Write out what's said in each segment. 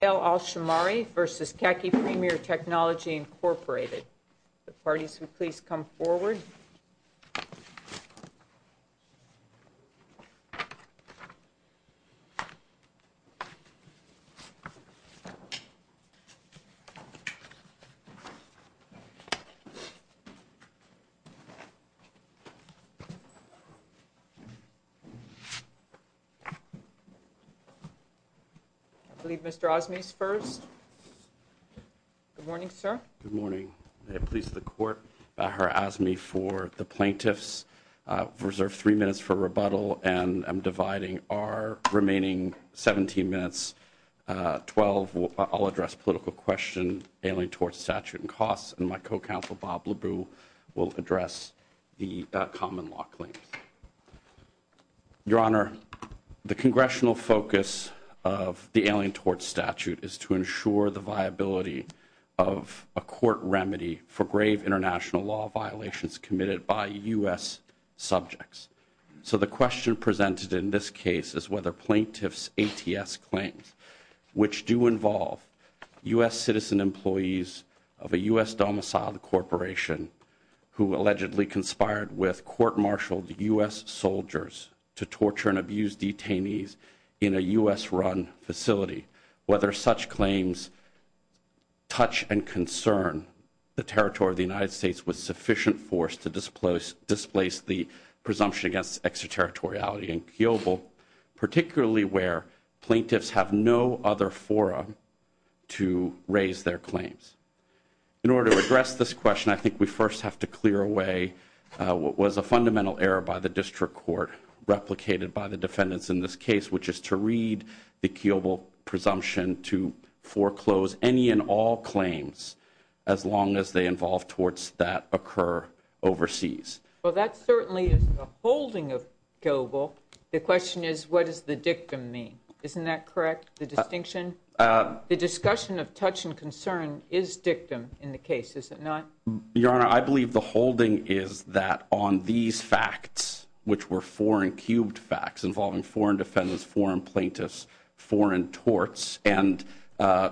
The parties who would please come forward. I believe Mr. Azmi is first. Good morning, sir. Good morning. May it please the Court, Her Honor, Azmi, for the plaintiffs. I've reserved three minutes for rebuttal, and I'm dividing our remaining 17 minutes. Twelve, I'll address political question, Alien Tort Statute and costs, and my co-counsel, Bob LeBou, will address the common law claims. Your Honor, the congressional focus of the Alien Tort Statute is to ensure the viability of a court remedy for grave international law violations committed by U.S. subjects. So the question presented in this case is whether plaintiffs' ATS claims, which do involve U.S. citizen employees of a U.S. domiciled corporation who allegedly conspired with court-martialed U.S. soldiers to torture and abuse detainees in a U.S.-run facility, whether such claims touch and concern the territory of the United States with sufficient force to displace the presumption against extraterritoriality in Kyobo, particularly where plaintiffs have no other forum to raise their claims. In order to address this question, I think we first have to clear away what was a fundamental error by the district court replicated by the defendants in this case, which is to read the Kyobo presumption to foreclose any and all claims as long as they involve torts that occur overseas. Well, that certainly is the holding of Kyobo. The question is, what does the dictum mean? Isn't that correct, the distinction? The discussion of touch and concern is dictum in the case, is it not? Your Honor, I believe the holding is that on these facts, which were four-and-cubed facts involving foreign defendants, foreign plaintiffs, foreign torts, and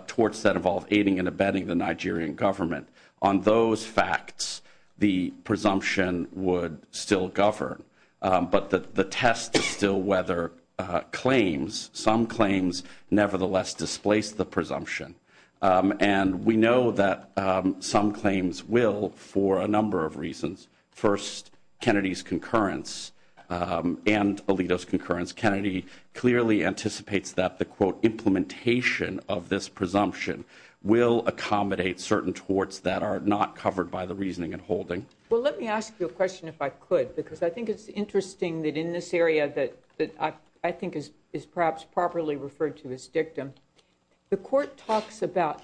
torts that involve aiding and abetting the Nigerian government, on those facts the presumption would still govern. But the test is still whether claims, some claims, nevertheless displace the presumption. And we know that some claims will for a number of reasons. First, Kennedy's concurrence and Alito's concurrence, Kennedy clearly anticipates that the, quote, implementation of this presumption will accommodate certain torts that are not covered by the reasoning and holding. Well, let me ask you a question if I could, because I think it's interesting that in this area that I think is perhaps properly referred to as dictum, the Court talks about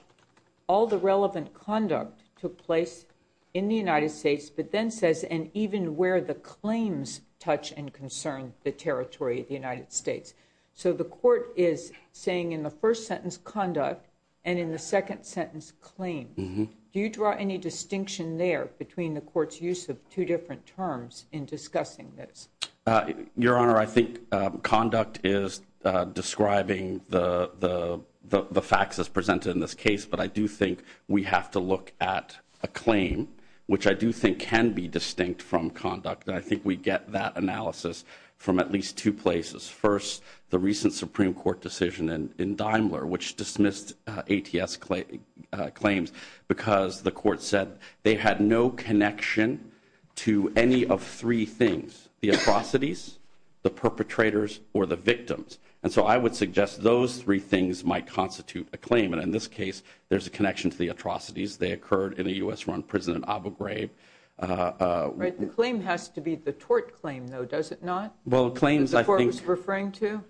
all the relevant conduct took place in the United States, but then says, and even where the claims touch and concern the territory of the United States. So the Court is saying in the first sentence, conduct, and in the second sentence, claims. Do you draw any distinction there between the Court's use of two different terms in discussing this? Your Honor, I think conduct is describing the facts as presented in this case, but I do think we have to look at a claim, which I do think can be distinct from conduct, and I think we get that analysis from at least two places. First, the recent Supreme Court decision in Daimler, which dismissed ATS claims because the Court said they had no connection to any of three things, the atrocities, the perpetrators, or the victims. And so I would suggest those three things might constitute a claim, and in this case there's a connection to the atrocities. They occurred in a U.S.-run prison in Abu Ghraib. Right. The claim has to be the tort claim, though, does it not? Well, claims, I think— That the Court was referring to?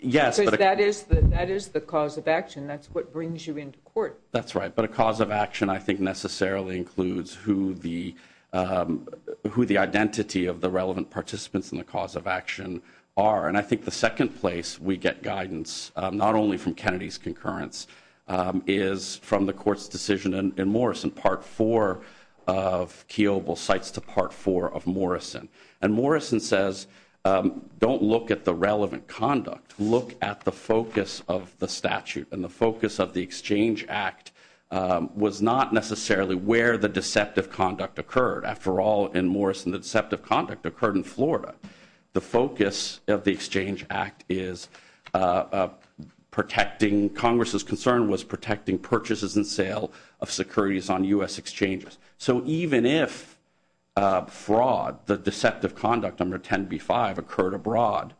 Yes, but— Because that is the cause of action. That's what brings you into court. That's right. But a cause of action, I think, necessarily includes who the identity of the relevant participants in the cause of action are. And I think the second place we get guidance, not only from Kennedy's concurrence, is from the Court's decision in Morrison, Part IV of Kiobel Cites to Part IV of Morrison. And Morrison says, don't look at the relevant conduct. Look at the focus of the statute. And the focus of the Exchange Act was not necessarily where the deceptive conduct occurred. After all, in Morrison, the deceptive conduct occurred in Florida. The focus of the Exchange Act is protecting—Congress's concern was protecting purchases and sale of securities on U.S. exchanges. So even if fraud, the deceptive conduct under 10b-5 occurred abroad,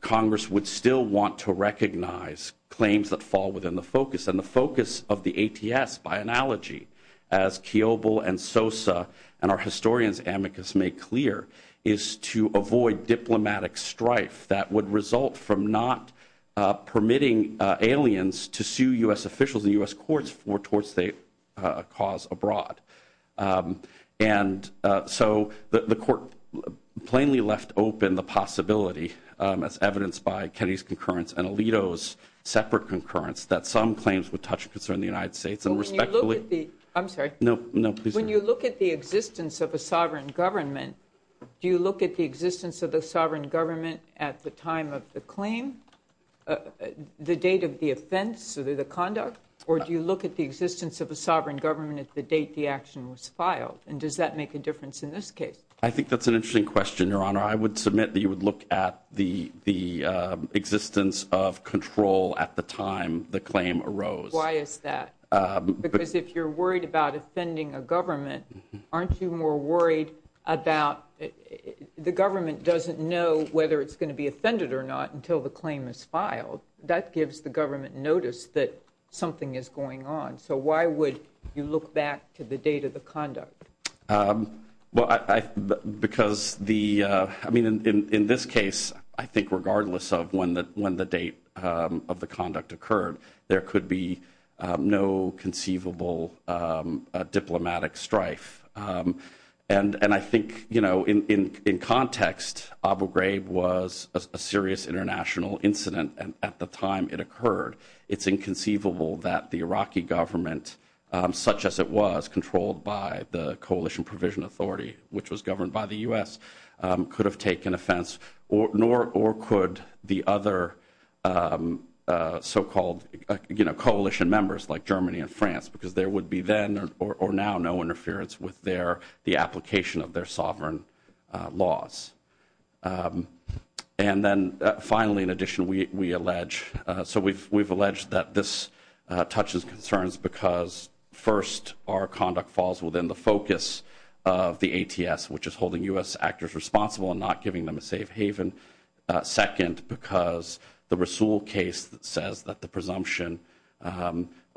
Congress would still want to recognize claims that fall within the focus. And the focus of the ATS, by analogy, as Kiobel and Sosa and our historians amicus make clear, is to avoid diplomatic strife that would result from not permitting aliens to sue U.S. officials and U.S. courts for tort state cause abroad. And so the Court plainly left open the possibility, as evidenced by Kennedy's concurrence and Alito's separate concurrence, that some claims would touch concern of the United States. When you look at the existence of a sovereign government, do you look at the existence of the sovereign government at the time of the claim, the date of the offense or the conduct, or do you look at the existence of a sovereign government at the date the action was filed? And does that make a difference in this case? I think that's an interesting question, Your Honor. I would submit that you would look at the existence of control at the time the claim arose. Why is that? Because if you're worried about offending a government, aren't you more worried about— the government doesn't know whether it's going to be offended or not until the claim is filed. That gives the government notice that something is going on. So why would you look back to the date of the conduct? Well, because the—I mean, in this case, I think regardless of when the date of the conduct occurred, there could be no conceivable diplomatic strife. And I think in context, Abu Ghraib was a serious international incident at the time it occurred. It's inconceivable that the Iraqi government, such as it was, controlled by the Coalition Provision Authority, which was governed by the U.S., could have taken offense, nor could the other so-called coalition members like Germany and France, because there would be then or now no interference with their—the application of their sovereign laws. And then finally, in addition, we allege—so we've alleged that this touches concerns because first, our conduct falls within the focus of the ATS, which is holding U.S. actors responsible and not giving them a safe haven. Second, because the Rasool case that says that the presumption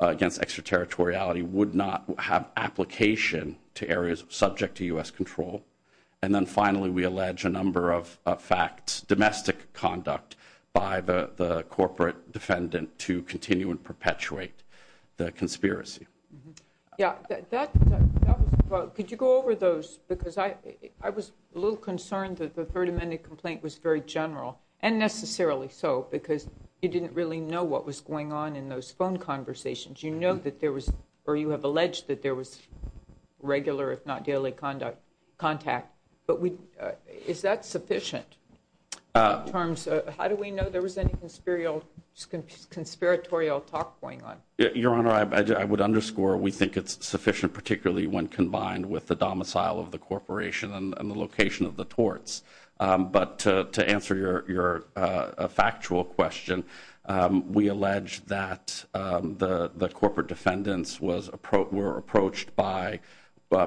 against extraterritoriality would not have application to areas subject to U.S. control. And then finally, we allege a number of facts, domestic conduct by the corporate defendant to continue and perpetuate the conspiracy. Yeah, that was—could you go over those? Because I was a little concerned that the Third Amendment complaint was very general, and necessarily so, because you didn't really know what was going on in those phone conversations. You know that there was—or you have alleged that there was regular, if not daily, contact. But is that sufficient in terms of—how do we know there was any conspiratorial talk going on? Your Honor, I would underscore we think it's sufficient, particularly when combined with the domicile of the corporation and the location of the torts. But to answer your factual question, we allege that the corporate defendants were approached by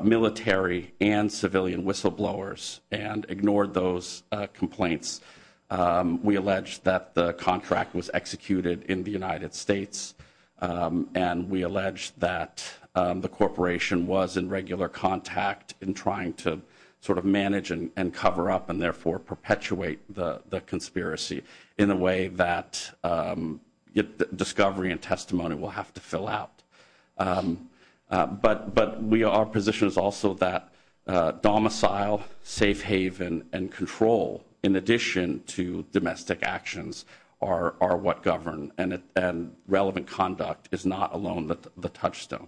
military and civilian whistleblowers and ignored those complaints. We allege that the contract was executed in the United States, and we allege that the corporation was in regular contact in trying to sort of manage and cover up and therefore perpetuate the conspiracy in a way that discovery and testimony will have to fill out. But our position is also that domicile, safe haven, and control, in addition to domestic actions, are what govern, and relevant conduct is not alone the touchstone.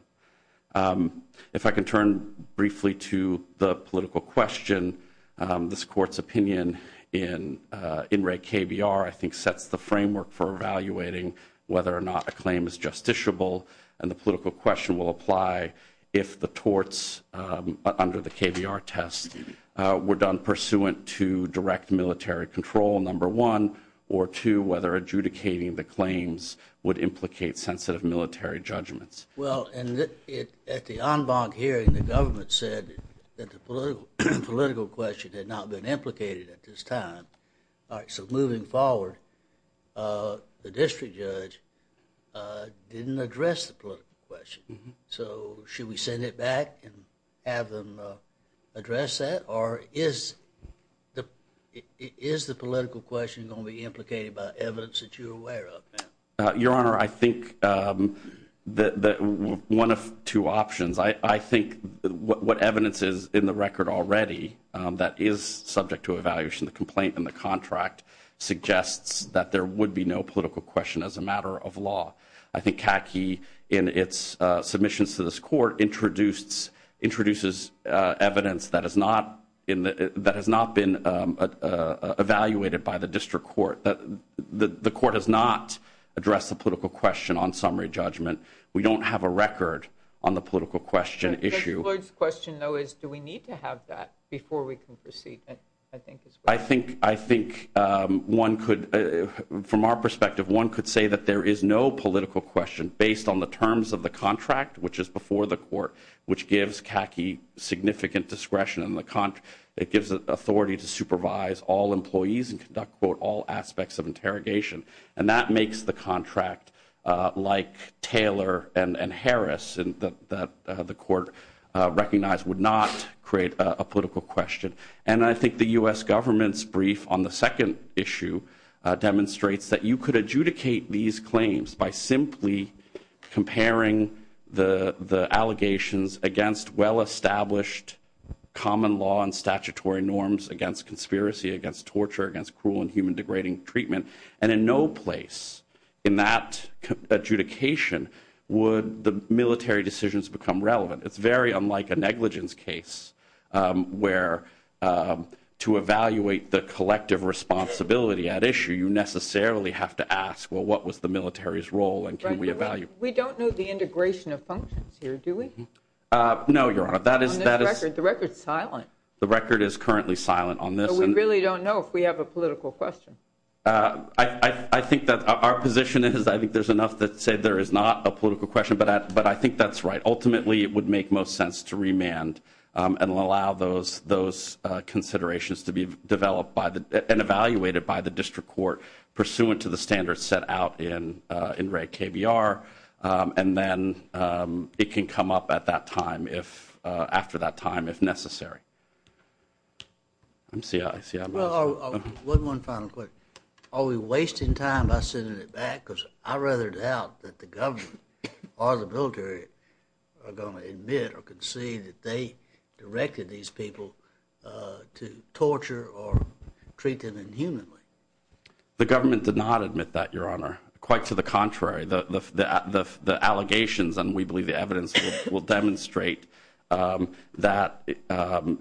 If I can turn briefly to the political question, this Court's opinion in Wray KBR I think sets the framework for evaluating whether or not a claim is justiciable, and the political question will apply if the torts under the KBR test were done pursuant to direct military control, number one. Or two, whether adjudicating the claims would implicate sensitive military judgments. Well, at the en banc hearing, the government said that the political question had not been implicated at this time. So moving forward, the district judge didn't address the political question. So should we send it back and have them address that? Or is the political question going to be implicated by evidence that you're aware of? Your Honor, I think one of two options. I think what evidence is in the record already that is subject to evaluation, the complaint in the contract suggests that there would be no political question as a matter of law. I think CACI, in its submissions to this Court, introduces evidence that has not been evaluated by the district court. The court has not addressed the political question on summary judgment. We don't have a record on the political question issue. Judge Floyd's question, though, is do we need to have that before we can proceed? I think one could, from our perspective, one could say that there is no political question based on the terms of the contract, which is before the court, which gives CACI significant discretion. It gives it authority to supervise all employees and conduct, quote, all aspects of interrogation. And that makes the contract, like Taylor and Harris, that the court recognized, would not create a political question. And I think the U.S. government's brief on the second issue demonstrates that you could adjudicate these claims by simply comparing the allegations against well-established common law and statutory norms, against conspiracy, against torture, against cruel and human degrading treatment, and in no place in that adjudication would the military decisions become relevant. It's very unlike a negligence case where to evaluate the collective responsibility at issue, you necessarily have to ask, well, what was the military's role and can we evaluate? We don't know the integration of functions here, do we? No, Your Honor. The record is silent. The record is currently silent on this. But we really don't know if we have a political question. I think that our position is I think there's enough to say there is not a political question, but I think that's right. Ultimately, it would make most sense to remand and allow those considerations to be developed and evaluated by the district court pursuant to the standards set out in Reg KBR, and then it can come up at that time, after that time, if necessary. One final question. Are we wasting time by sending it back because I rather doubt that the government or the military are going to admit or concede that they directed these people to torture or treat them inhumanly? The government did not admit that, Your Honor. Quite to the contrary. The allegations, and we believe the evidence, will demonstrate that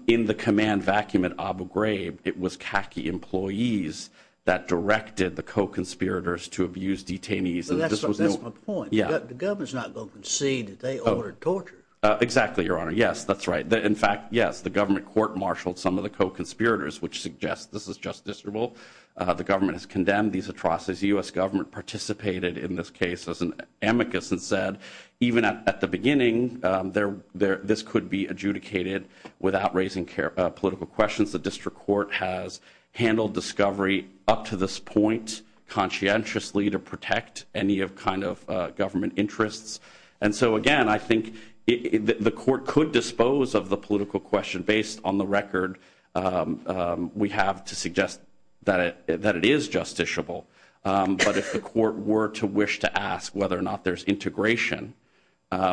in the command vacuum at Abu Ghraib, it was khaki employees that directed the co-conspirators to abuse detainees. That's my point. The government's not going to concede that they ordered torture. Exactly, Your Honor. Yes, that's right. In fact, yes, the government court-martialed some of the co-conspirators, which suggests this is just disreputable. The government has condemned these atrocities. The U.S. government participated in this case as an amicus and said, even at the beginning, this could be adjudicated without raising political questions. The district court has handled discovery up to this point conscientiously to protect any kind of government interests. And so, again, I think the court could dispose of the political question based on the record we have to suggest that it is justiciable. But if the court were to wish to ask whether or not there's integration,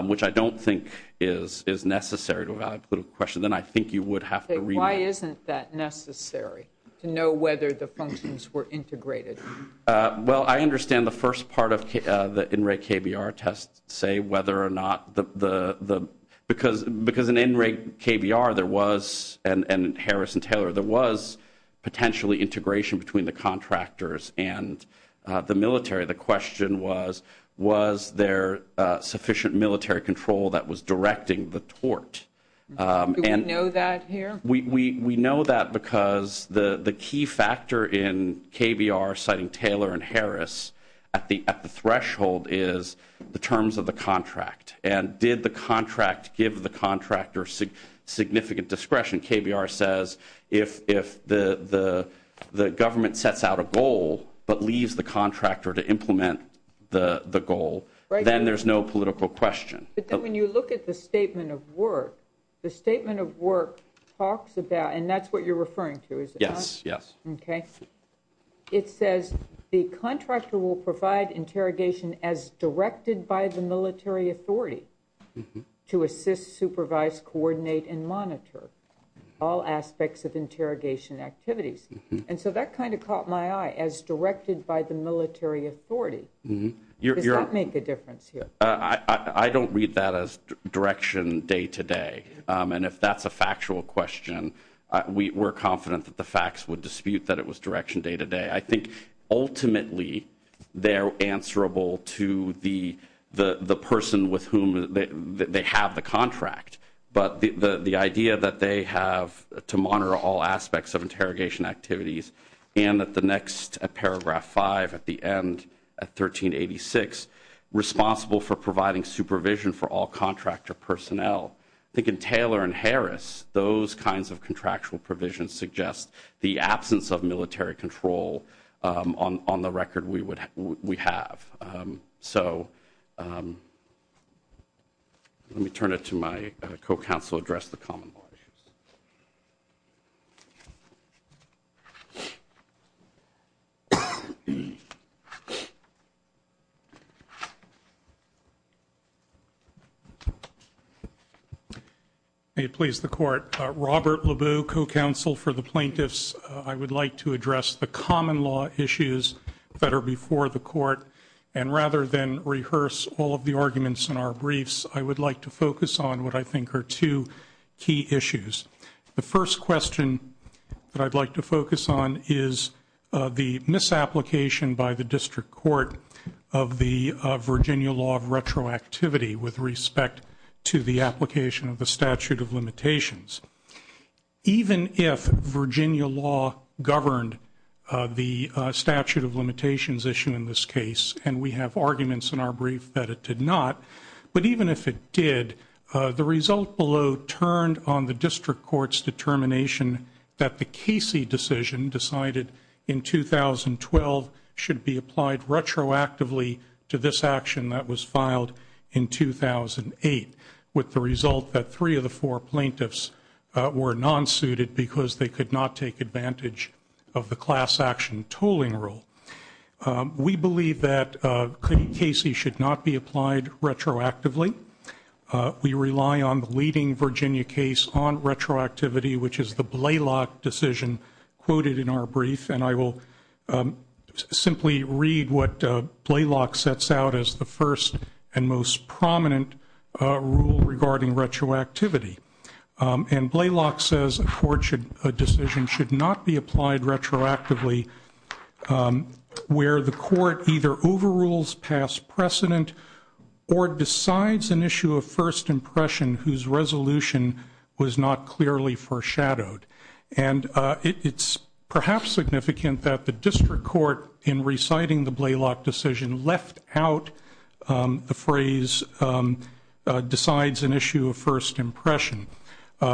which I don't think is necessary to evaluate a political question, then I think you would have to read that. Why isn't that necessary, to know whether the functions were integrated? Well, I understand the first part of the in re KBR test say whether or not the ‑‑ because in in re KBR there was, and Harrison Taylor, there was potentially integration between the contractors and the military. The question was, was there sufficient military control that was directing the tort? Do we know that here? We know that because the key factor in KBR citing Taylor and Harris at the threshold is the terms of the contract. And did the contract give the contractor significant discretion? KBR says if the government sets out a goal but leaves the contractor to implement the goal, then there's no political question. But then when you look at the statement of work, the statement of work talks about, and that's what you're referring to, is it not? Yes, yes. Okay. It says the contractor will provide interrogation as directed by the military authority to assist, supervise, coordinate and monitor all aspects of interrogation activities. And so that kind of caught my eye, as directed by the military authority. Does that make a difference here? I don't read that as direction day to day. And if that's a factual question, we're confident that the facts would dispute that it was direction day to day. I think ultimately they're answerable to the person with whom they have the contract. But the idea that they have to monitor all aspects of interrogation activities and that the next paragraph five at the end, at 1386, responsible for providing supervision for all contractor personnel. I think in Taylor and Harris, those kinds of contractual provisions suggest the absence of military control on the record we have. So let me turn it to my co-counsel to address the common law issues. May it please the Court. Robert Labue, co-counsel for the plaintiffs. I would like to address the common law issues that are before the court. And rather than rehearse all of the arguments in our briefs, I would like to focus on what I think are two key issues. The first question that I'd like to focus on is the misapplication by the district court of the Virginia law of retroactivity with respect to the application of the statute of limitations. Even if Virginia law governed the statute of limitations issue in this case, and we have arguments in our brief that it did not, but even if it did, the result below turned on the district court's determination that the Casey decision decided in 2012 should be applied retroactively to this action that was filed in 2008, with the result that three of the four plaintiffs were non-suited because they could not take advantage of the class action tooling rule. We believe that Casey should not be applied retroactively. We rely on the leading Virginia case on retroactivity, which is the Blaylock decision quoted in our brief, and I will simply read what Blaylock sets out as the first and most prominent rule regarding retroactivity. And Blaylock says a decision should not be applied retroactively where the court either overrules past precedent or decides an issue of first impression whose resolution was not clearly foreshadowed. And it's perhaps significant that the district court, in reciting the Blaylock decision, left out the phrase decides an issue of first impression,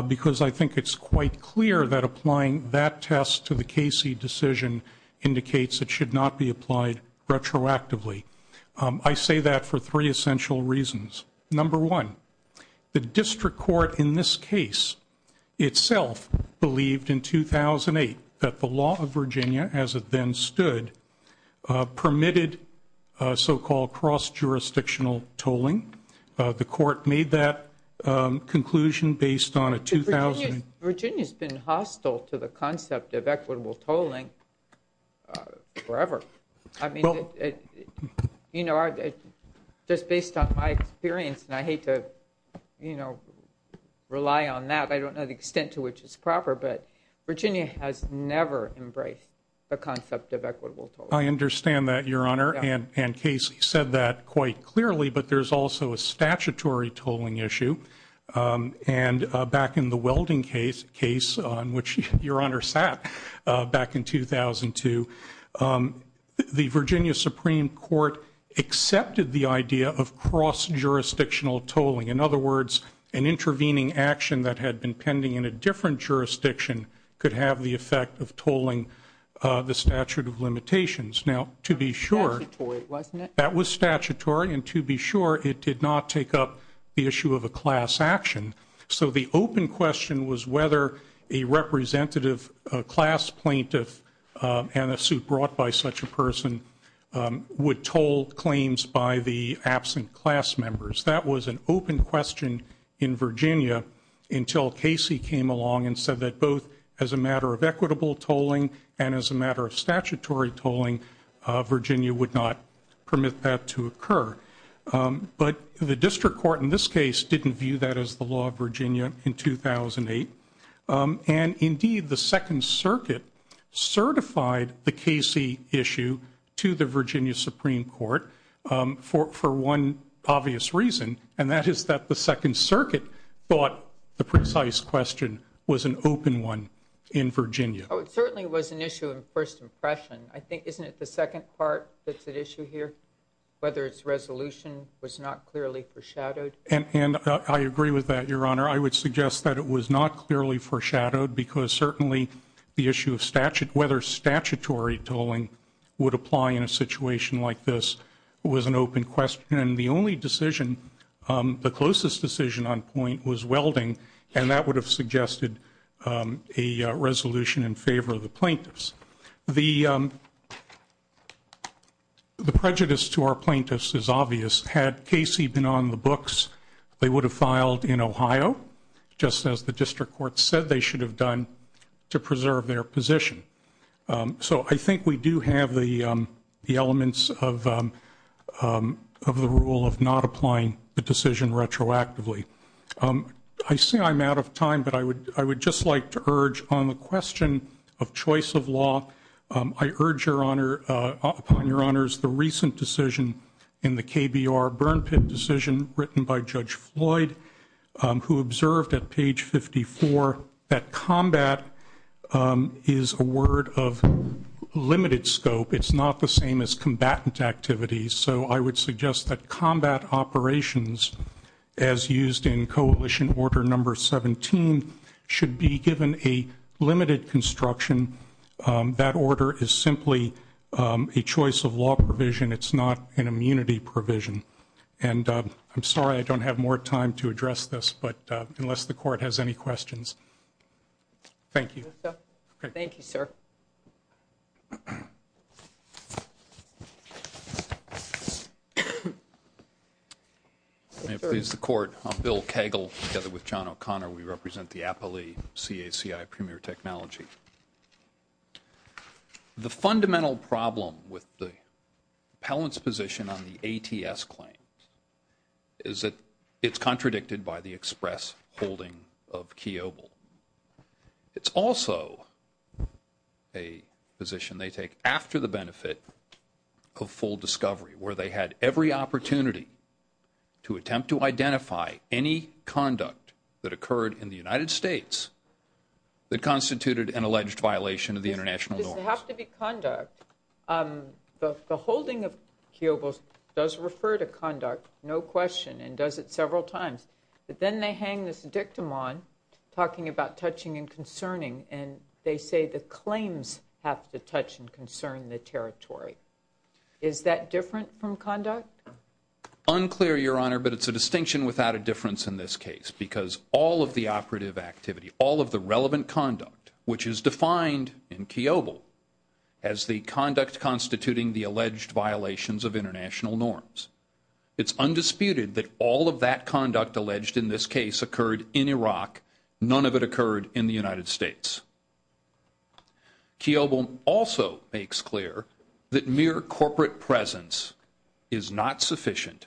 because I think it's quite clear that applying that test to the Casey decision indicates it should not be applied retroactively. I say that for three essential reasons. Number one, the district court in this case itself believed in 2008 that the law of Virginia, as it then stood, permitted so-called cross-jurisdictional tolling. The court made that conclusion based on a 2000- Virginia's been hostile to the concept of equitable tolling forever. I mean, you know, just based on my experience, and I hate to, you know, rely on that. I don't know the extent to which it's proper, but Virginia has never embraced the concept of equitable tolling. I understand that, Your Honor, and Casey said that quite clearly, but there's also a statutory tolling issue. And back in the welding case, on which Your Honor sat back in 2002, the Virginia Supreme Court accepted the idea of cross-jurisdictional tolling. In other words, an intervening action that had been pending in a different jurisdiction could have the effect of tolling the statute of limitations. Now, to be sure- That was statutory, wasn't it? So the open question was whether a representative class plaintiff and a suit brought by such a person would toll claims by the absent class members. That was an open question in Virginia until Casey came along and said that both as a matter of equitable tolling and as a matter of statutory tolling, Virginia would not permit that to occur. But the district court in this case didn't view that as the law of Virginia in 2008. And indeed, the Second Circuit certified the Casey issue to the Virginia Supreme Court for one obvious reason, and that is that the Second Circuit thought the precise question was an open one in Virginia. Oh, it certainly was an issue of first impression. I think, isn't it the second part that's at issue here, whether its resolution was not clearly foreshadowed? And I agree with that, Your Honor. I would suggest that it was not clearly foreshadowed because certainly the issue of whether statutory tolling would apply in a situation like this was an open question. And the only decision, the closest decision on point, was welding, and that would have suggested a resolution in favor of the plaintiffs. The prejudice to our plaintiffs is obvious. Had Casey been on the books, they would have filed in Ohio, just as the district court said they should have done to preserve their position. So I think we do have the elements of the rule of not applying the decision retroactively. I say I'm out of time, but I would just like to urge on the question of choice of law, I urge upon your honors the recent decision in the KBR burn pit decision written by Judge Floyd, who observed at page 54 that combat is a word of limited scope. It's not the same as combatant activities. So I would suggest that combat operations, as used in coalition order number 17, should be given a limited construction. That order is simply a choice of law provision. It's not an immunity provision. And I'm sorry I don't have more time to address this, but unless the court has any questions. Thank you. Thank you, sir. May it please the court, I'm Bill Kegel together with John O'Connor. We represent the APALE CACI Premier Technology. The fundamental problem with the appellant's position on the ATS claim is that it's contradicted by the express holding of Kiobel. It's also a position they take after the benefit of full discovery, where they had every opportunity to attempt to identify any conduct that occurred in the United States that constituted an alleged violation of the international norms. Does it have to be conduct? The holding of Kiobel does refer to conduct, no question, and does it several times. But then they hang this dictum on, talking about touching and concerning, and they say the claims have to touch and concern the territory. Is that different from conduct? Unclear, Your Honor, but it's a distinction without a difference in this case, because all of the operative activity, all of the relevant conduct, which is defined in Kiobel as the conduct constituting the alleged violations of international norms. It's undisputed that all of that conduct alleged in this case occurred in Iraq. None of it occurred in the United States. Kiobel also makes clear that mere corporate presence is not sufficient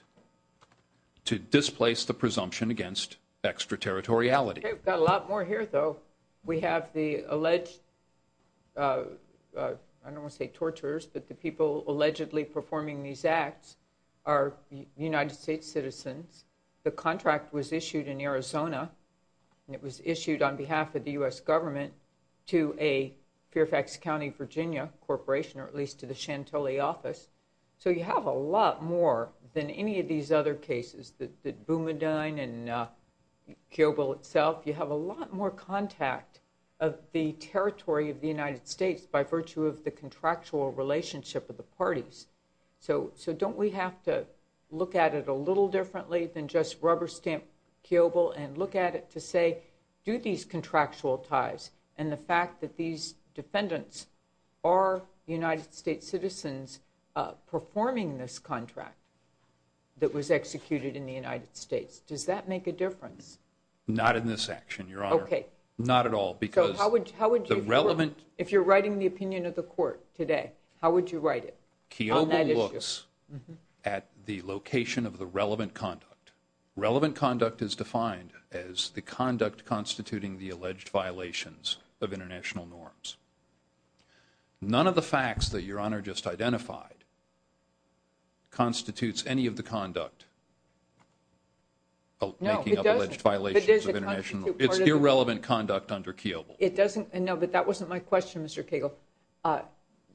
to displace the presumption against extraterritoriality. We've got a lot more here, though. We have the alleged, I don't want to say torturers, but the people allegedly performing these acts are United States citizens. The contract was issued in Arizona, and it was issued on behalf of the U.S. government to a Fairfax County, Virginia corporation, or at least to the Chantilly office. So you have a lot more than any of these other cases, the Boumediene and Kiobel itself. You have a lot more contact of the territory of the United States by virtue of the contractual relationship of the parties. So don't we have to look at it a little differently than just rubber stamp Kiobel and look at it to say, do these contractual ties and the fact that these defendants are United States citizens performing this contract that was executed in the United States, does that make a difference? Not in this action, Your Honor. Okay. Not at all. So how would you, if you're writing the opinion of the court today, how would you write it on that issue? Kiobel looks at the location of the relevant conduct. Relevant conduct is defined as the conduct constituting the alleged violations of international norms. None of the facts that Your Honor just identified constitutes any of the conduct making of alleged violations of international norms. It's irrelevant conduct under Kiobel. No, but that wasn't my question, Mr. Cagle.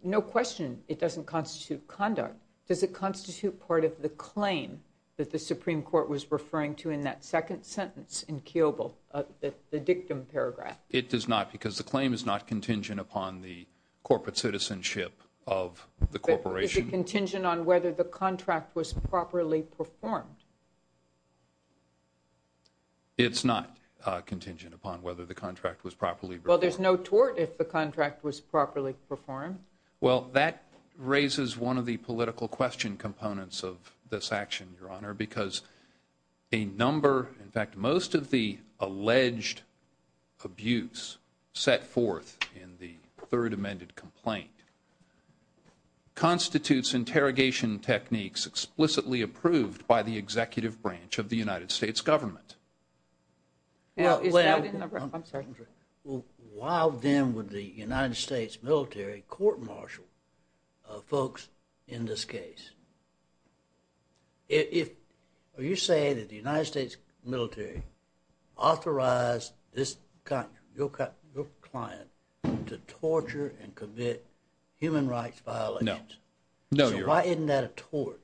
No question it doesn't constitute conduct. Does it constitute part of the claim that the Supreme Court was referring to in that second sentence in Kiobel, the dictum paragraph? It does not because the claim is not contingent upon the corporate citizenship of the corporation. Is it contingent on whether the contract was properly performed? It's not contingent upon whether the contract was properly performed. Well, there's no tort if the contract was properly performed. Well, that raises one of the political question components of this action, Your Honor, because a number, in fact, most of the alleged abuse set forth in the third amended complaint constitutes interrogation techniques explicitly approved by the executive branch of the United States government. Well, while then would the United States military court-martial folks in this case? Are you saying that the United States military authorized this client to torture and commit human rights violations? No. So why isn't that a tort,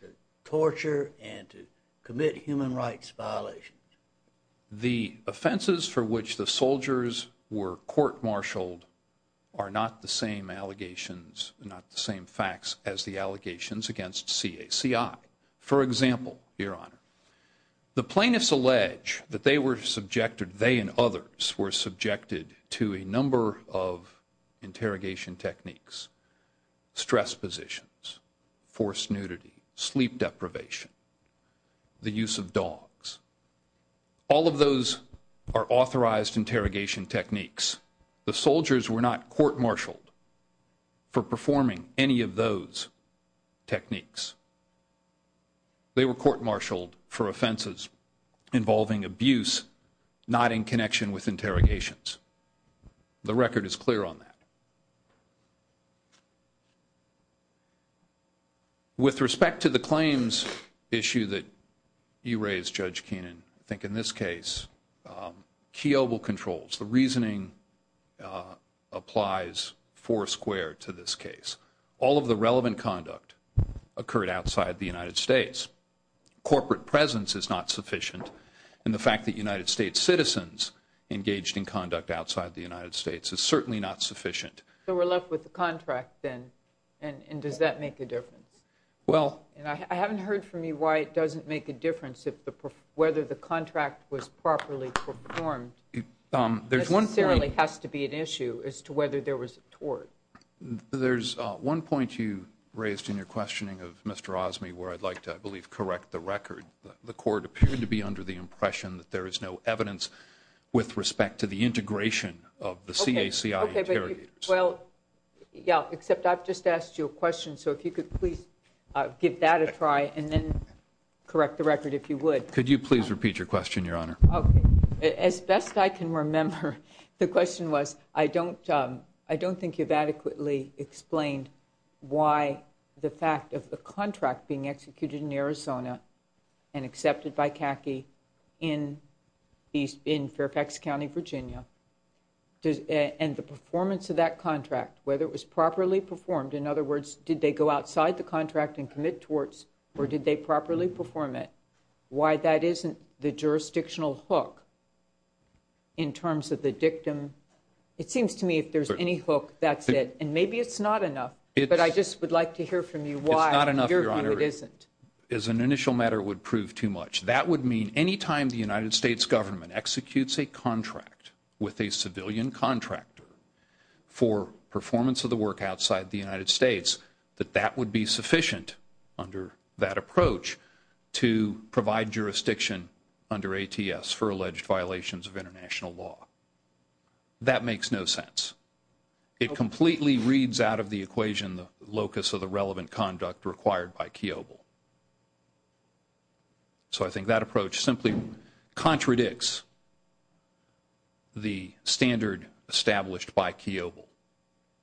to torture and to commit human rights violations? The offenses for which the soldiers were court-martialed are not the same allegations, not the same facts as the allegations against CACI. For example, Your Honor, the plaintiffs allege that they were subjected, they and others were subjected to a number of interrogation techniques, stress positions, forced nudity, sleep deprivation, the use of dogs. All of those are authorized interrogation techniques. The soldiers were not court-martialed for performing any of those techniques. They were court-martialed for offenses involving abuse not in connection with interrogations. The record is clear on that. With respect to the claims issue that you raised, Judge Keenan, I think in this case, key oval controls, the reasoning applies foursquare to this case. All of the relevant conduct occurred outside the United States. Corporate presence is not sufficient, and the fact that United States citizens engaged in conduct outside the United States is certainly not sufficient. So we're left with the contract then, and does that make a difference? I haven't heard from you why it doesn't make a difference whether the contract was properly performed. It necessarily has to be an issue as to whether there was a tort. There's one point you raised in your questioning of Mr. Osme where I'd like to, I believe, correct the record. The court appeared to be under the impression that there is no evidence with respect to the integration of the CACI interrogators. Well, yeah, except I've just asked you a question, so if you could please give that a try and then correct the record if you would. Could you please repeat your question, Your Honor? Okay. As best I can remember, the question was, I don't think you've adequately explained why the fact of the contract being executed in Arizona and accepted by CACI in Fairfax County, Virginia, and the performance of that contract, whether it was properly performed, in other words, did they go outside the contract and commit torts or did they properly perform it, why that isn't the jurisdictional hook in terms of the dictum. It seems to me if there's any hook, that's it, and maybe it's not enough, but I just would like to hear from you why in your view it isn't. As an initial matter, it would prove too much. That would mean any time the United States government executes a contract with a civilian contractor for performance of the work outside the United States, that that would be sufficient under that approach to provide jurisdiction under ATS for alleged violations of international law. That makes no sense. It completely reads out of the equation the locus of the relevant conduct required by Kiobel. So I think that approach simply contradicts the standard established by Kiobel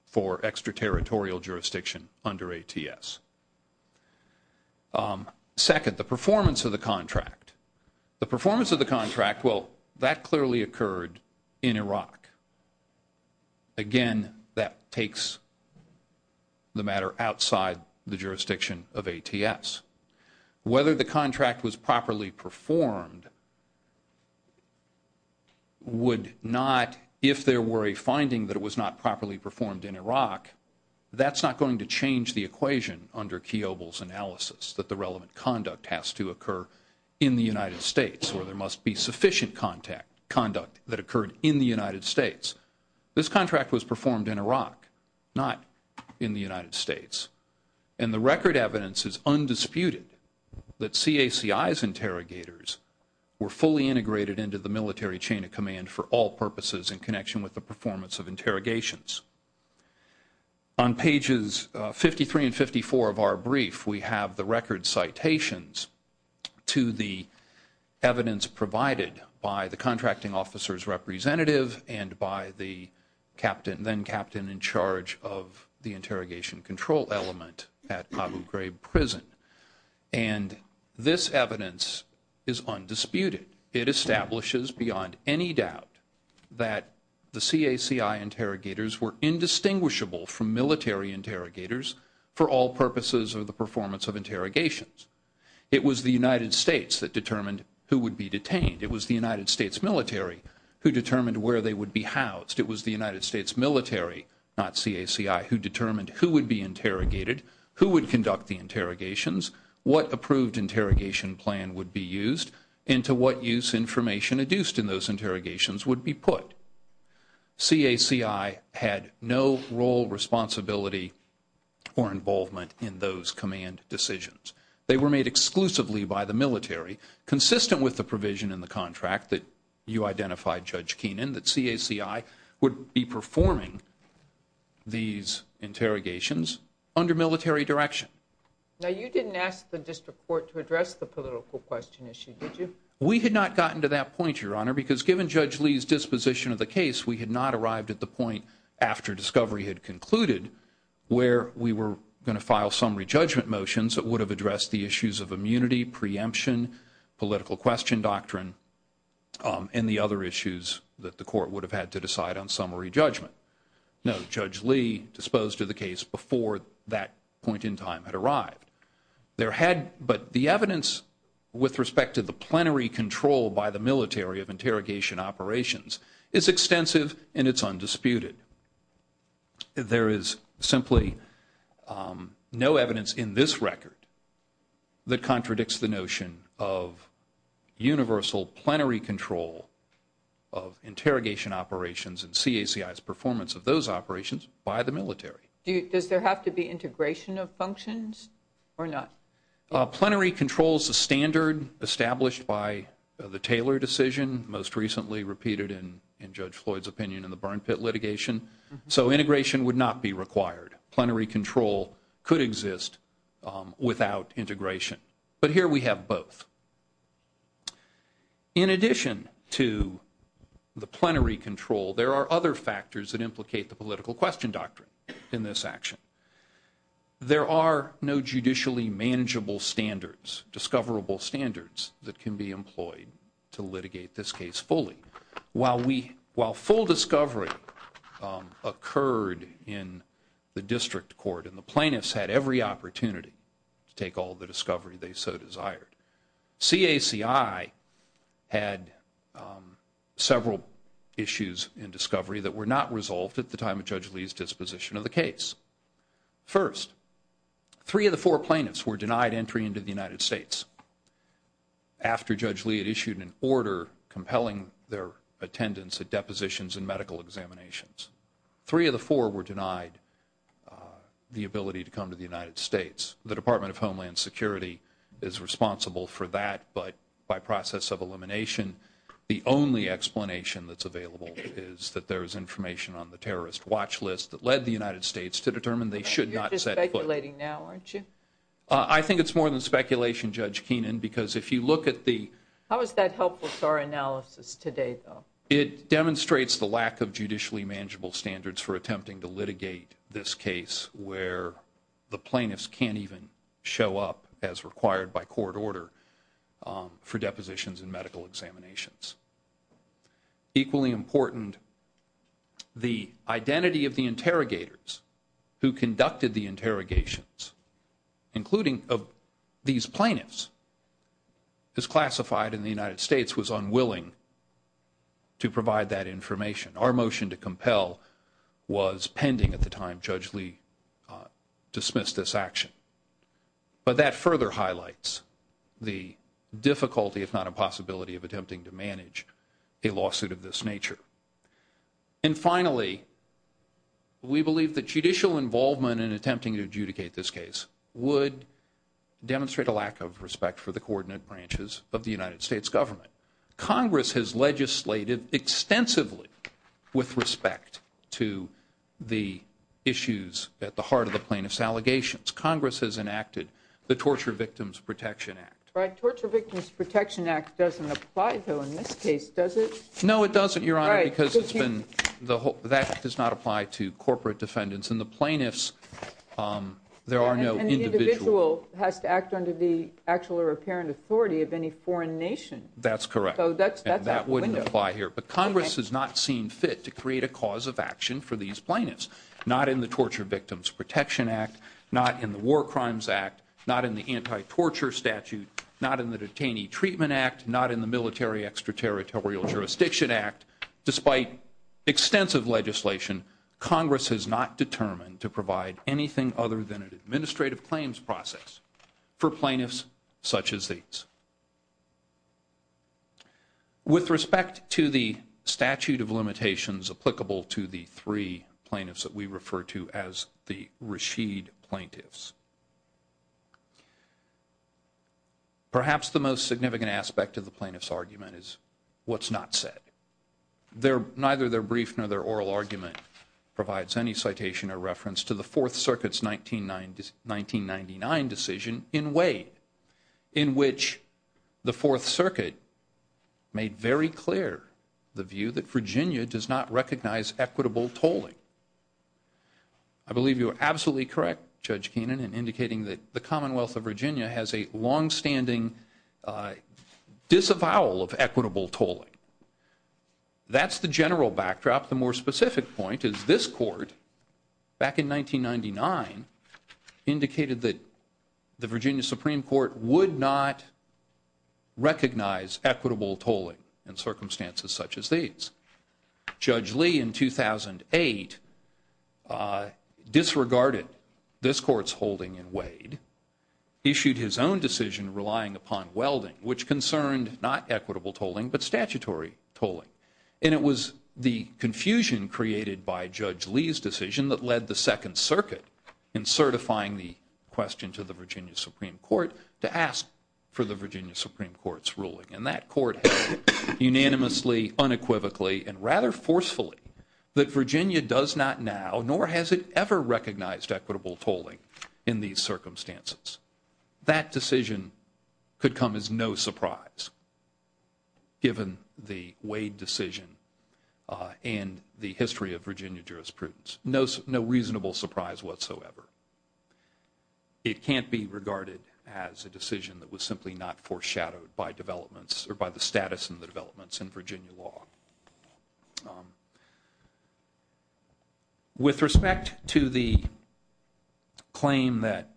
for extraterritorial jurisdiction under ATS. Second, the performance of the contract. The performance of the contract, well, that clearly occurred in Iraq. Again, that takes the matter outside the jurisdiction of ATS. Whether the contract was properly performed would not, if there were a finding that it was not properly performed in Iraq, that's not going to change the equation under Kiobel's analysis that the relevant conduct has to occur in the United States or there must be sufficient conduct that occurred in the United States. This contract was performed in Iraq, not in the United States. And the record evidence is undisputed that CACI's interrogators were fully integrated into the military chain of command for all purposes in connection with the performance of interrogations. On pages 53 and 54 of our brief, we have the record citations to the evidence provided by the contracting officer's representative and by the then-captain in charge of the interrogation control element at Abu Ghraib Prison. And this evidence is undisputed. It establishes beyond any doubt that the CACI interrogators were indistinguishable from military interrogators for all purposes of the performance of interrogations. It was the United States that determined who would be detained. It was the United States military who determined where they would be housed. It was the United States military, not CACI, who determined who would be interrogated, who would conduct the interrogations, what approved interrogation plan would be used, and to what use information adduced in those interrogations would be put. CACI had no role, responsibility, or involvement in those command decisions. They were made exclusively by the military, consistent with the provision in the contract that you identified, Judge Keenan, that CACI would be performing these interrogations under military direction. Now, you didn't ask the district court to address the political question issue, did you? We had not gotten to that point, Your Honor, because given Judge Lee's disposition of the case, we had not arrived at the point after discovery had concluded where we were going to file summary judgment motions that would have addressed the issues of immunity, preemption, political question doctrine, and the other issues that the court would have had to decide on summary judgment. No, Judge Lee disposed of the case before that point in time had arrived. But the evidence with respect to the plenary control by the military of interrogation operations is extensive and it's undisputed. There is simply no evidence in this record that contradicts the notion of universal plenary control of interrogation operations and CACI's performance of those operations by the military. Does there have to be integration of functions or not? Plenary control is a standard established by the Taylor decision, most recently repeated in Judge Floyd's opinion in the Barn Pit litigation, so integration would not be required. Plenary control could exist without integration, but here we have both. In addition to the plenary control, there are other factors that implicate the political question doctrine. In this action, there are no judicially manageable standards, discoverable standards that can be employed to litigate this case fully. While full discovery occurred in the district court and the plaintiffs had every opportunity to take all the discovery they so desired, CACI had several issues in discovery that were not resolved at the time of Judge Lee's disposition of the case. First, three of the four plaintiffs were denied entry into the United States after Judge Lee had issued an order compelling their attendance at depositions and medical examinations. Three of the four were denied the ability to come to the United States. The Department of Homeland Security is responsible for that, but by process of elimination, the only explanation that's available is that there is information on the terrorist watch list that led the United States to determine they should not set foot. You're just speculating now, aren't you? I think it's more than speculation, Judge Keenan, because if you look at the... How is that helpful to our analysis today, though? It demonstrates the lack of judicially manageable standards for attempting to litigate this case where the plaintiffs can't even show up, as required by court order, for depositions and medical examinations. Equally important, the identity of the interrogators who conducted the interrogations, including these plaintiffs, is classified, and the United States was unwilling to provide that information. Our motion to compel was pending at the time Judge Lee dismissed this action. But that further highlights the difficulty, if not impossibility, of attempting to manage a lawsuit of this nature. And finally, we believe that judicial involvement in attempting to adjudicate this case would demonstrate a lack of respect for the coordinate branches of the United States government. Congress has legislated extensively with respect to the issues at the heart of the plaintiffs' allegations. Congress has enacted the Torture Victims Protection Act. Torture Victims Protection Act doesn't apply, though, in this case, does it? No, it doesn't, Your Honor, because that does not apply to corporate defendants. In the plaintiffs, there are no individual... And the individual has to act under the actual or apparent authority of any foreign nation. That's correct. So that's out the window. That wouldn't apply here. But Congress has not seen fit to create a cause of action for these plaintiffs. Not in the Torture Victims Protection Act, not in the War Crimes Act, not in the Anti-Torture Statute, not in the Detainee Treatment Act, not in the Military Extraterritorial Jurisdiction Act. Despite extensive legislation, Congress has not determined to provide anything other than an administrative claims process for plaintiffs such as these. With respect to the statute of limitations applicable to the three plaintiffs that we refer to as the Rashid plaintiffs, perhaps the most significant aspect of the plaintiff's argument is what's not said. Neither their brief nor their oral argument provides any citation or reference to the Fourth Circuit's 1999 decision in Wade, in which the Fourth Circuit made very clear the view that Virginia does not recognize equitable tolling. I believe you are absolutely correct, Judge Keenan, in indicating that the Commonwealth of Virginia has a longstanding disavowal of equitable tolling. That's the general backdrop. The more specific point is this Court, back in 1999, indicated that the Virginia Supreme Court would not recognize equitable tolling in circumstances such as these. Judge Lee, in 2008, disregarded this Court's holding in Wade, issued his own decision relying upon welding, which concerned not equitable tolling but statutory tolling. And it was the confusion created by Judge Lee's decision that led the Second Circuit, in certifying the question to the Virginia Supreme Court, to ask for the Virginia Supreme Court's ruling. And that Court held unanimously, unequivocally, and rather forcefully, that Virginia does not now nor has it ever recognized equitable tolling in these circumstances. That decision could come as no surprise, given the Wade decision and the history of Virginia jurisprudence. No reasonable surprise whatsoever. It can't be regarded as a decision that was simply not foreshadowed by developments or by the status of the developments in Virginia law. With respect to the claim that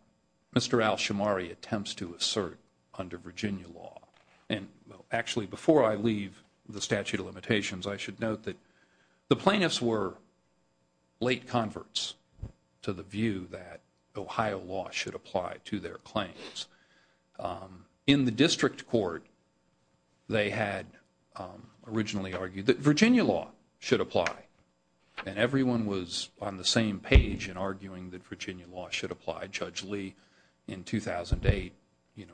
Mr. Alshamari attempts to assert under Virginia law, and actually before I leave the statute of limitations, I should note that the plaintiffs were late converts to the view that Ohio law should apply to their claims. In the district court, they had originally argued that Virginia law should apply. And everyone was on the same page in arguing that Virginia law should apply. Judge Lee, in 2008,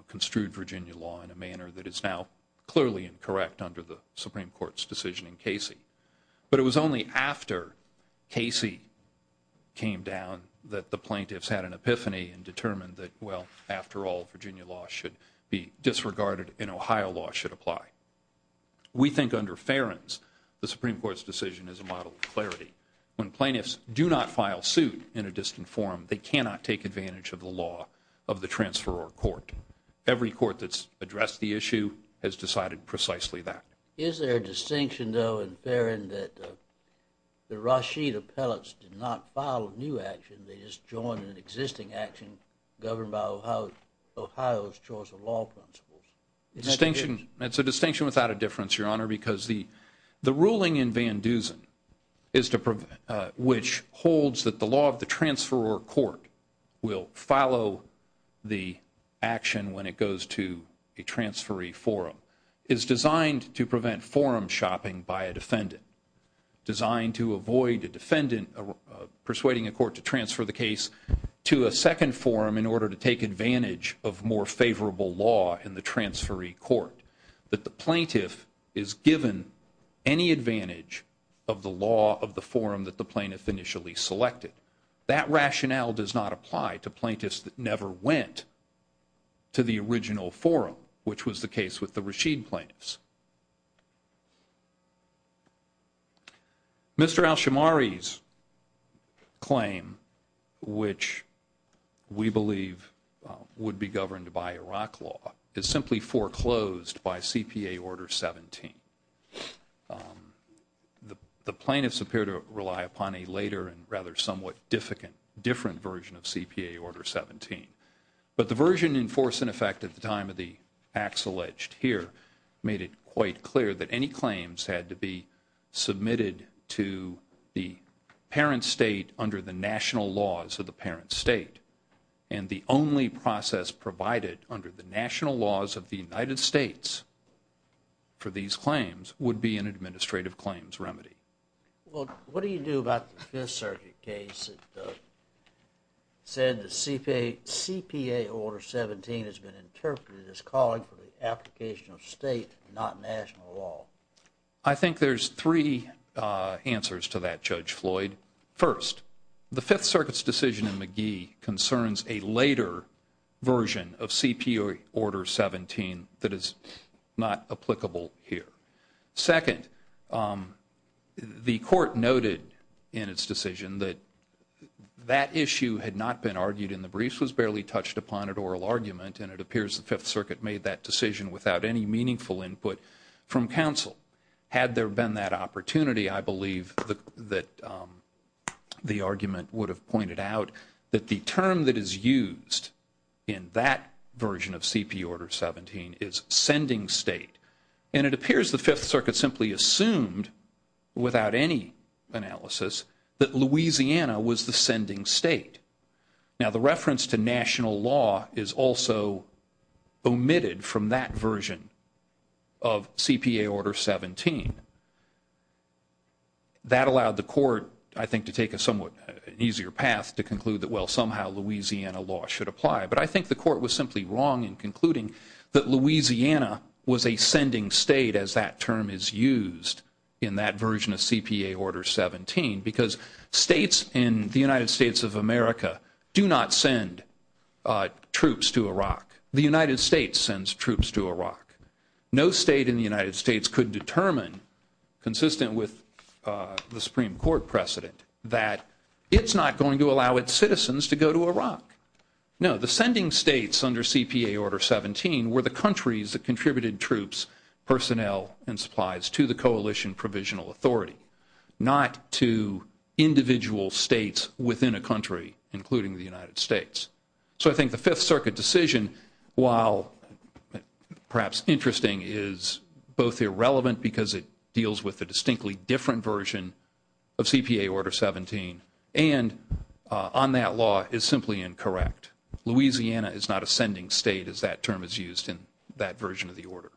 construed Virginia law in a manner that is now clearly incorrect under the Supreme Court's decision in Casey. But it was only after Casey came down that the plaintiffs had an epiphany and determined that, well, after all, Virginia law should be disregarded and Ohio law should apply. We think under Ferens, the Supreme Court's decision is a model of clarity. When plaintiffs do not file suit in a distant forum, they cannot take advantage of the law of the transferor court. Every court that's addressed the issue has decided precisely that. Is there a distinction, though, in Ferens, that the Rashid appellates did not file a new action, they just joined an existing action governed by Ohio's choice of law principles? It's a distinction without a difference, Your Honor, because the ruling in Van Dusen, which holds that the law of the transferor court will follow the action when it goes to a transferee forum, is designed to prevent forum shopping by a defendant, designed to avoid a defendant persuading a court to transfer the case to a second forum in order to take advantage of more favorable law in the transferee court, that the plaintiff is given any advantage of the law of the forum that the plaintiff initially selected. That rationale does not apply to plaintiffs that never went to the original forum, which was the case with the Rashid plaintiffs. Mr. Alshamari's claim, which we believe would be governed by Iraq law, is simply foreclosed by CPA Order 17. The plaintiffs appear to rely upon a later and rather somewhat different version of CPA Order 17. But the version in force and effect at the time of the acts alleged here made it quite clear that any claims had to be submitted to the parent state under the national laws of the parent state, and the only process provided under the national laws of the United States for these claims would be an administrative claims remedy. Well, what do you do about the Fifth Circuit case that said that CPA Order 17 has been interpreted as calling for the application of state, not national law? I think there's three answers to that, Judge Floyd. First, the Fifth Circuit's decision in McGee concerns a later version of CPA Order 17 that is not applicable here. Second, the court noted in its decision that that issue had not been argued in the briefs, was barely touched upon at oral argument, and it appears the Fifth Circuit made that decision without any meaningful input from counsel. Had there been that opportunity, I believe that the argument would have pointed out that the term that is used in that version of CPA Order 17 is sending state, and it appears the Fifth Circuit simply assumed without any analysis that Louisiana was the sending state. Now, the reference to national law is also omitted from that version of CPA Order 17. That allowed the court, I think, to take a somewhat easier path to conclude that, well, somehow Louisiana law should apply. But I think the court was simply wrong in concluding that Louisiana was a sending state as that term is used in that version of CPA Order 17 because states in the United States of America do not send troops to Iraq. The United States sends troops to Iraq. No state in the United States could determine, consistent with the Supreme Court precedent, that it's not going to allow its citizens to go to Iraq. No, the sending states under CPA Order 17 were the countries that contributed troops, personnel, and supplies to the coalition provisional authority, not to individual states within a country, including the United States. So I think the Fifth Circuit decision, while perhaps interesting, is both irrelevant because it deals with a distinctly different version of CPA Order 17 and on that law is simply incorrect. Louisiana is not a sending state as that term is used in that version of the order.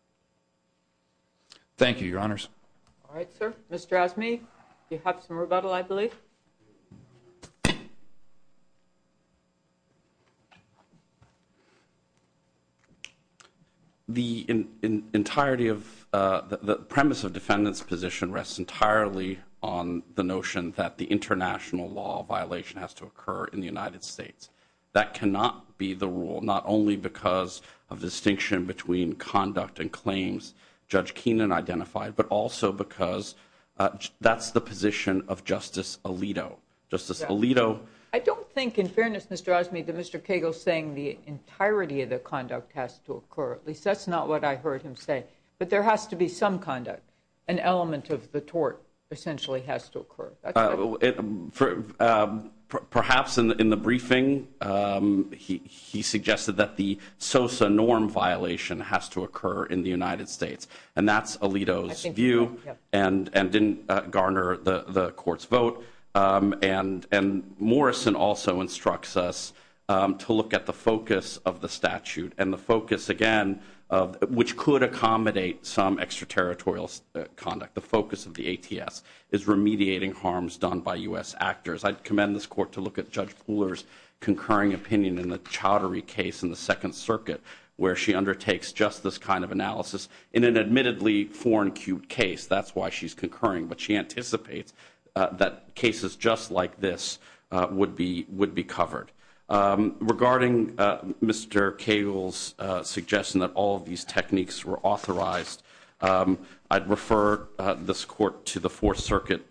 Thank you, Your Honors. All right, sir. Mr. Asmey, you have some rebuttal, I believe. The premise of defendant's position rests entirely on the notion that the international law violation has to occur in the United States. That cannot be the rule, not only because of distinction between conduct and claims Judge Keenan identified, but also because that's the position of Justice Alito. Justice Alito. I don't think, in fairness, Mr. Asmey, that Mr. Cagle is saying the entirety of the conduct has to occur. At least that's not what I heard him say. But there has to be some conduct. An element of the tort essentially has to occur. Perhaps in the briefing he suggested that the SOSA norm violation has to occur in the United States, and that's Alito's view and didn't garner the Court's vote. And Morrison also instructs us to look at the focus of the statute and the focus, again, which could accommodate some extraterritorial conduct, the focus of the ATS, is remediating harms done by U.S. actors. I'd commend this Court to look at Judge Pooler's concurring opinion in the Chaudhary case in the Second Circuit, where she undertakes just this kind of analysis in an admittedly foreign-queued case. That's why she's concurring. But she anticipates that cases just like this would be covered. Regarding Mr. Cagle's suggestion that all of these techniques were authorized, I'd refer this Court to the Fourth Circuit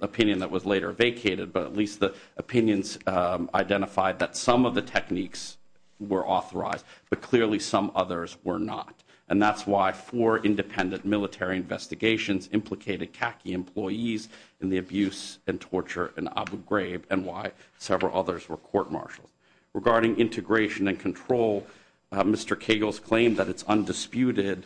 opinion that was later vacated, but at least the opinions identified that some of the techniques were authorized, but clearly some others were not. And that's why four independent military investigations implicated khaki employees in the abuse and torture in Abu Ghraib and why several others were court-martialed. Regarding integration and control, Mr. Cagle's claim that it's undisputed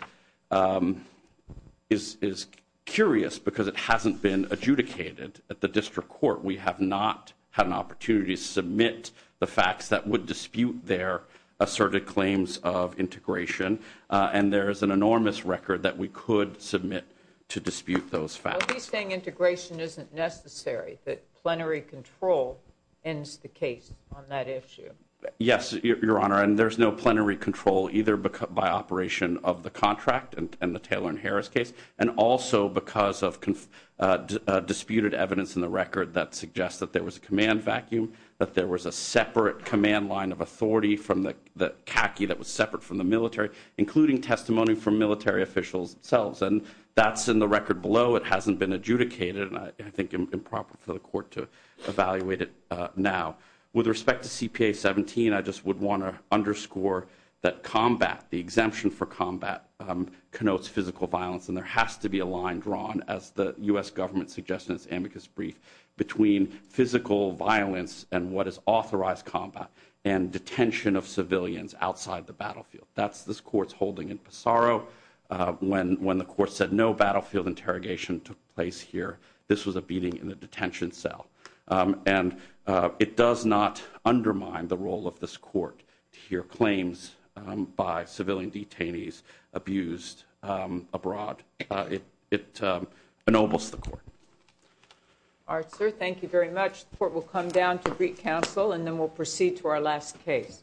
is curious because it hasn't been adjudicated at the district court. We have not had an opportunity to submit the facts that would dispute their asserted claims of integration, and there is an enormous record that we could submit to dispute those facts. So he's saying integration isn't necessary, that plenary control ends the case on that issue. Yes, Your Honor, and there's no plenary control either by operation of the contract and the Taylor and Harris case, and also because of disputed evidence in the record that suggests that there was a command vacuum, that there was a separate command line of authority from the khaki that was separate from the military, including testimony from military officials themselves. And that's in the record below. It hasn't been adjudicated, and I think improper for the court to evaluate it now. With respect to CPA 17, I just would want to underscore that combat, the exemption for combat, connotes physical violence, and there has to be a line drawn, as the U.S. government suggests in its amicus brief, between physical violence and what is authorized combat and detention of civilians outside the battlefield. That's this court's holding in Passaro when the court said no battlefield interrogation took place here. This was a beating in a detention cell. And it does not undermine the role of this court to hear claims by civilian detainees abused abroad. It ennobles the court. All right, sir, thank you very much. The court will come down to brief counsel, and then we'll proceed to our last case.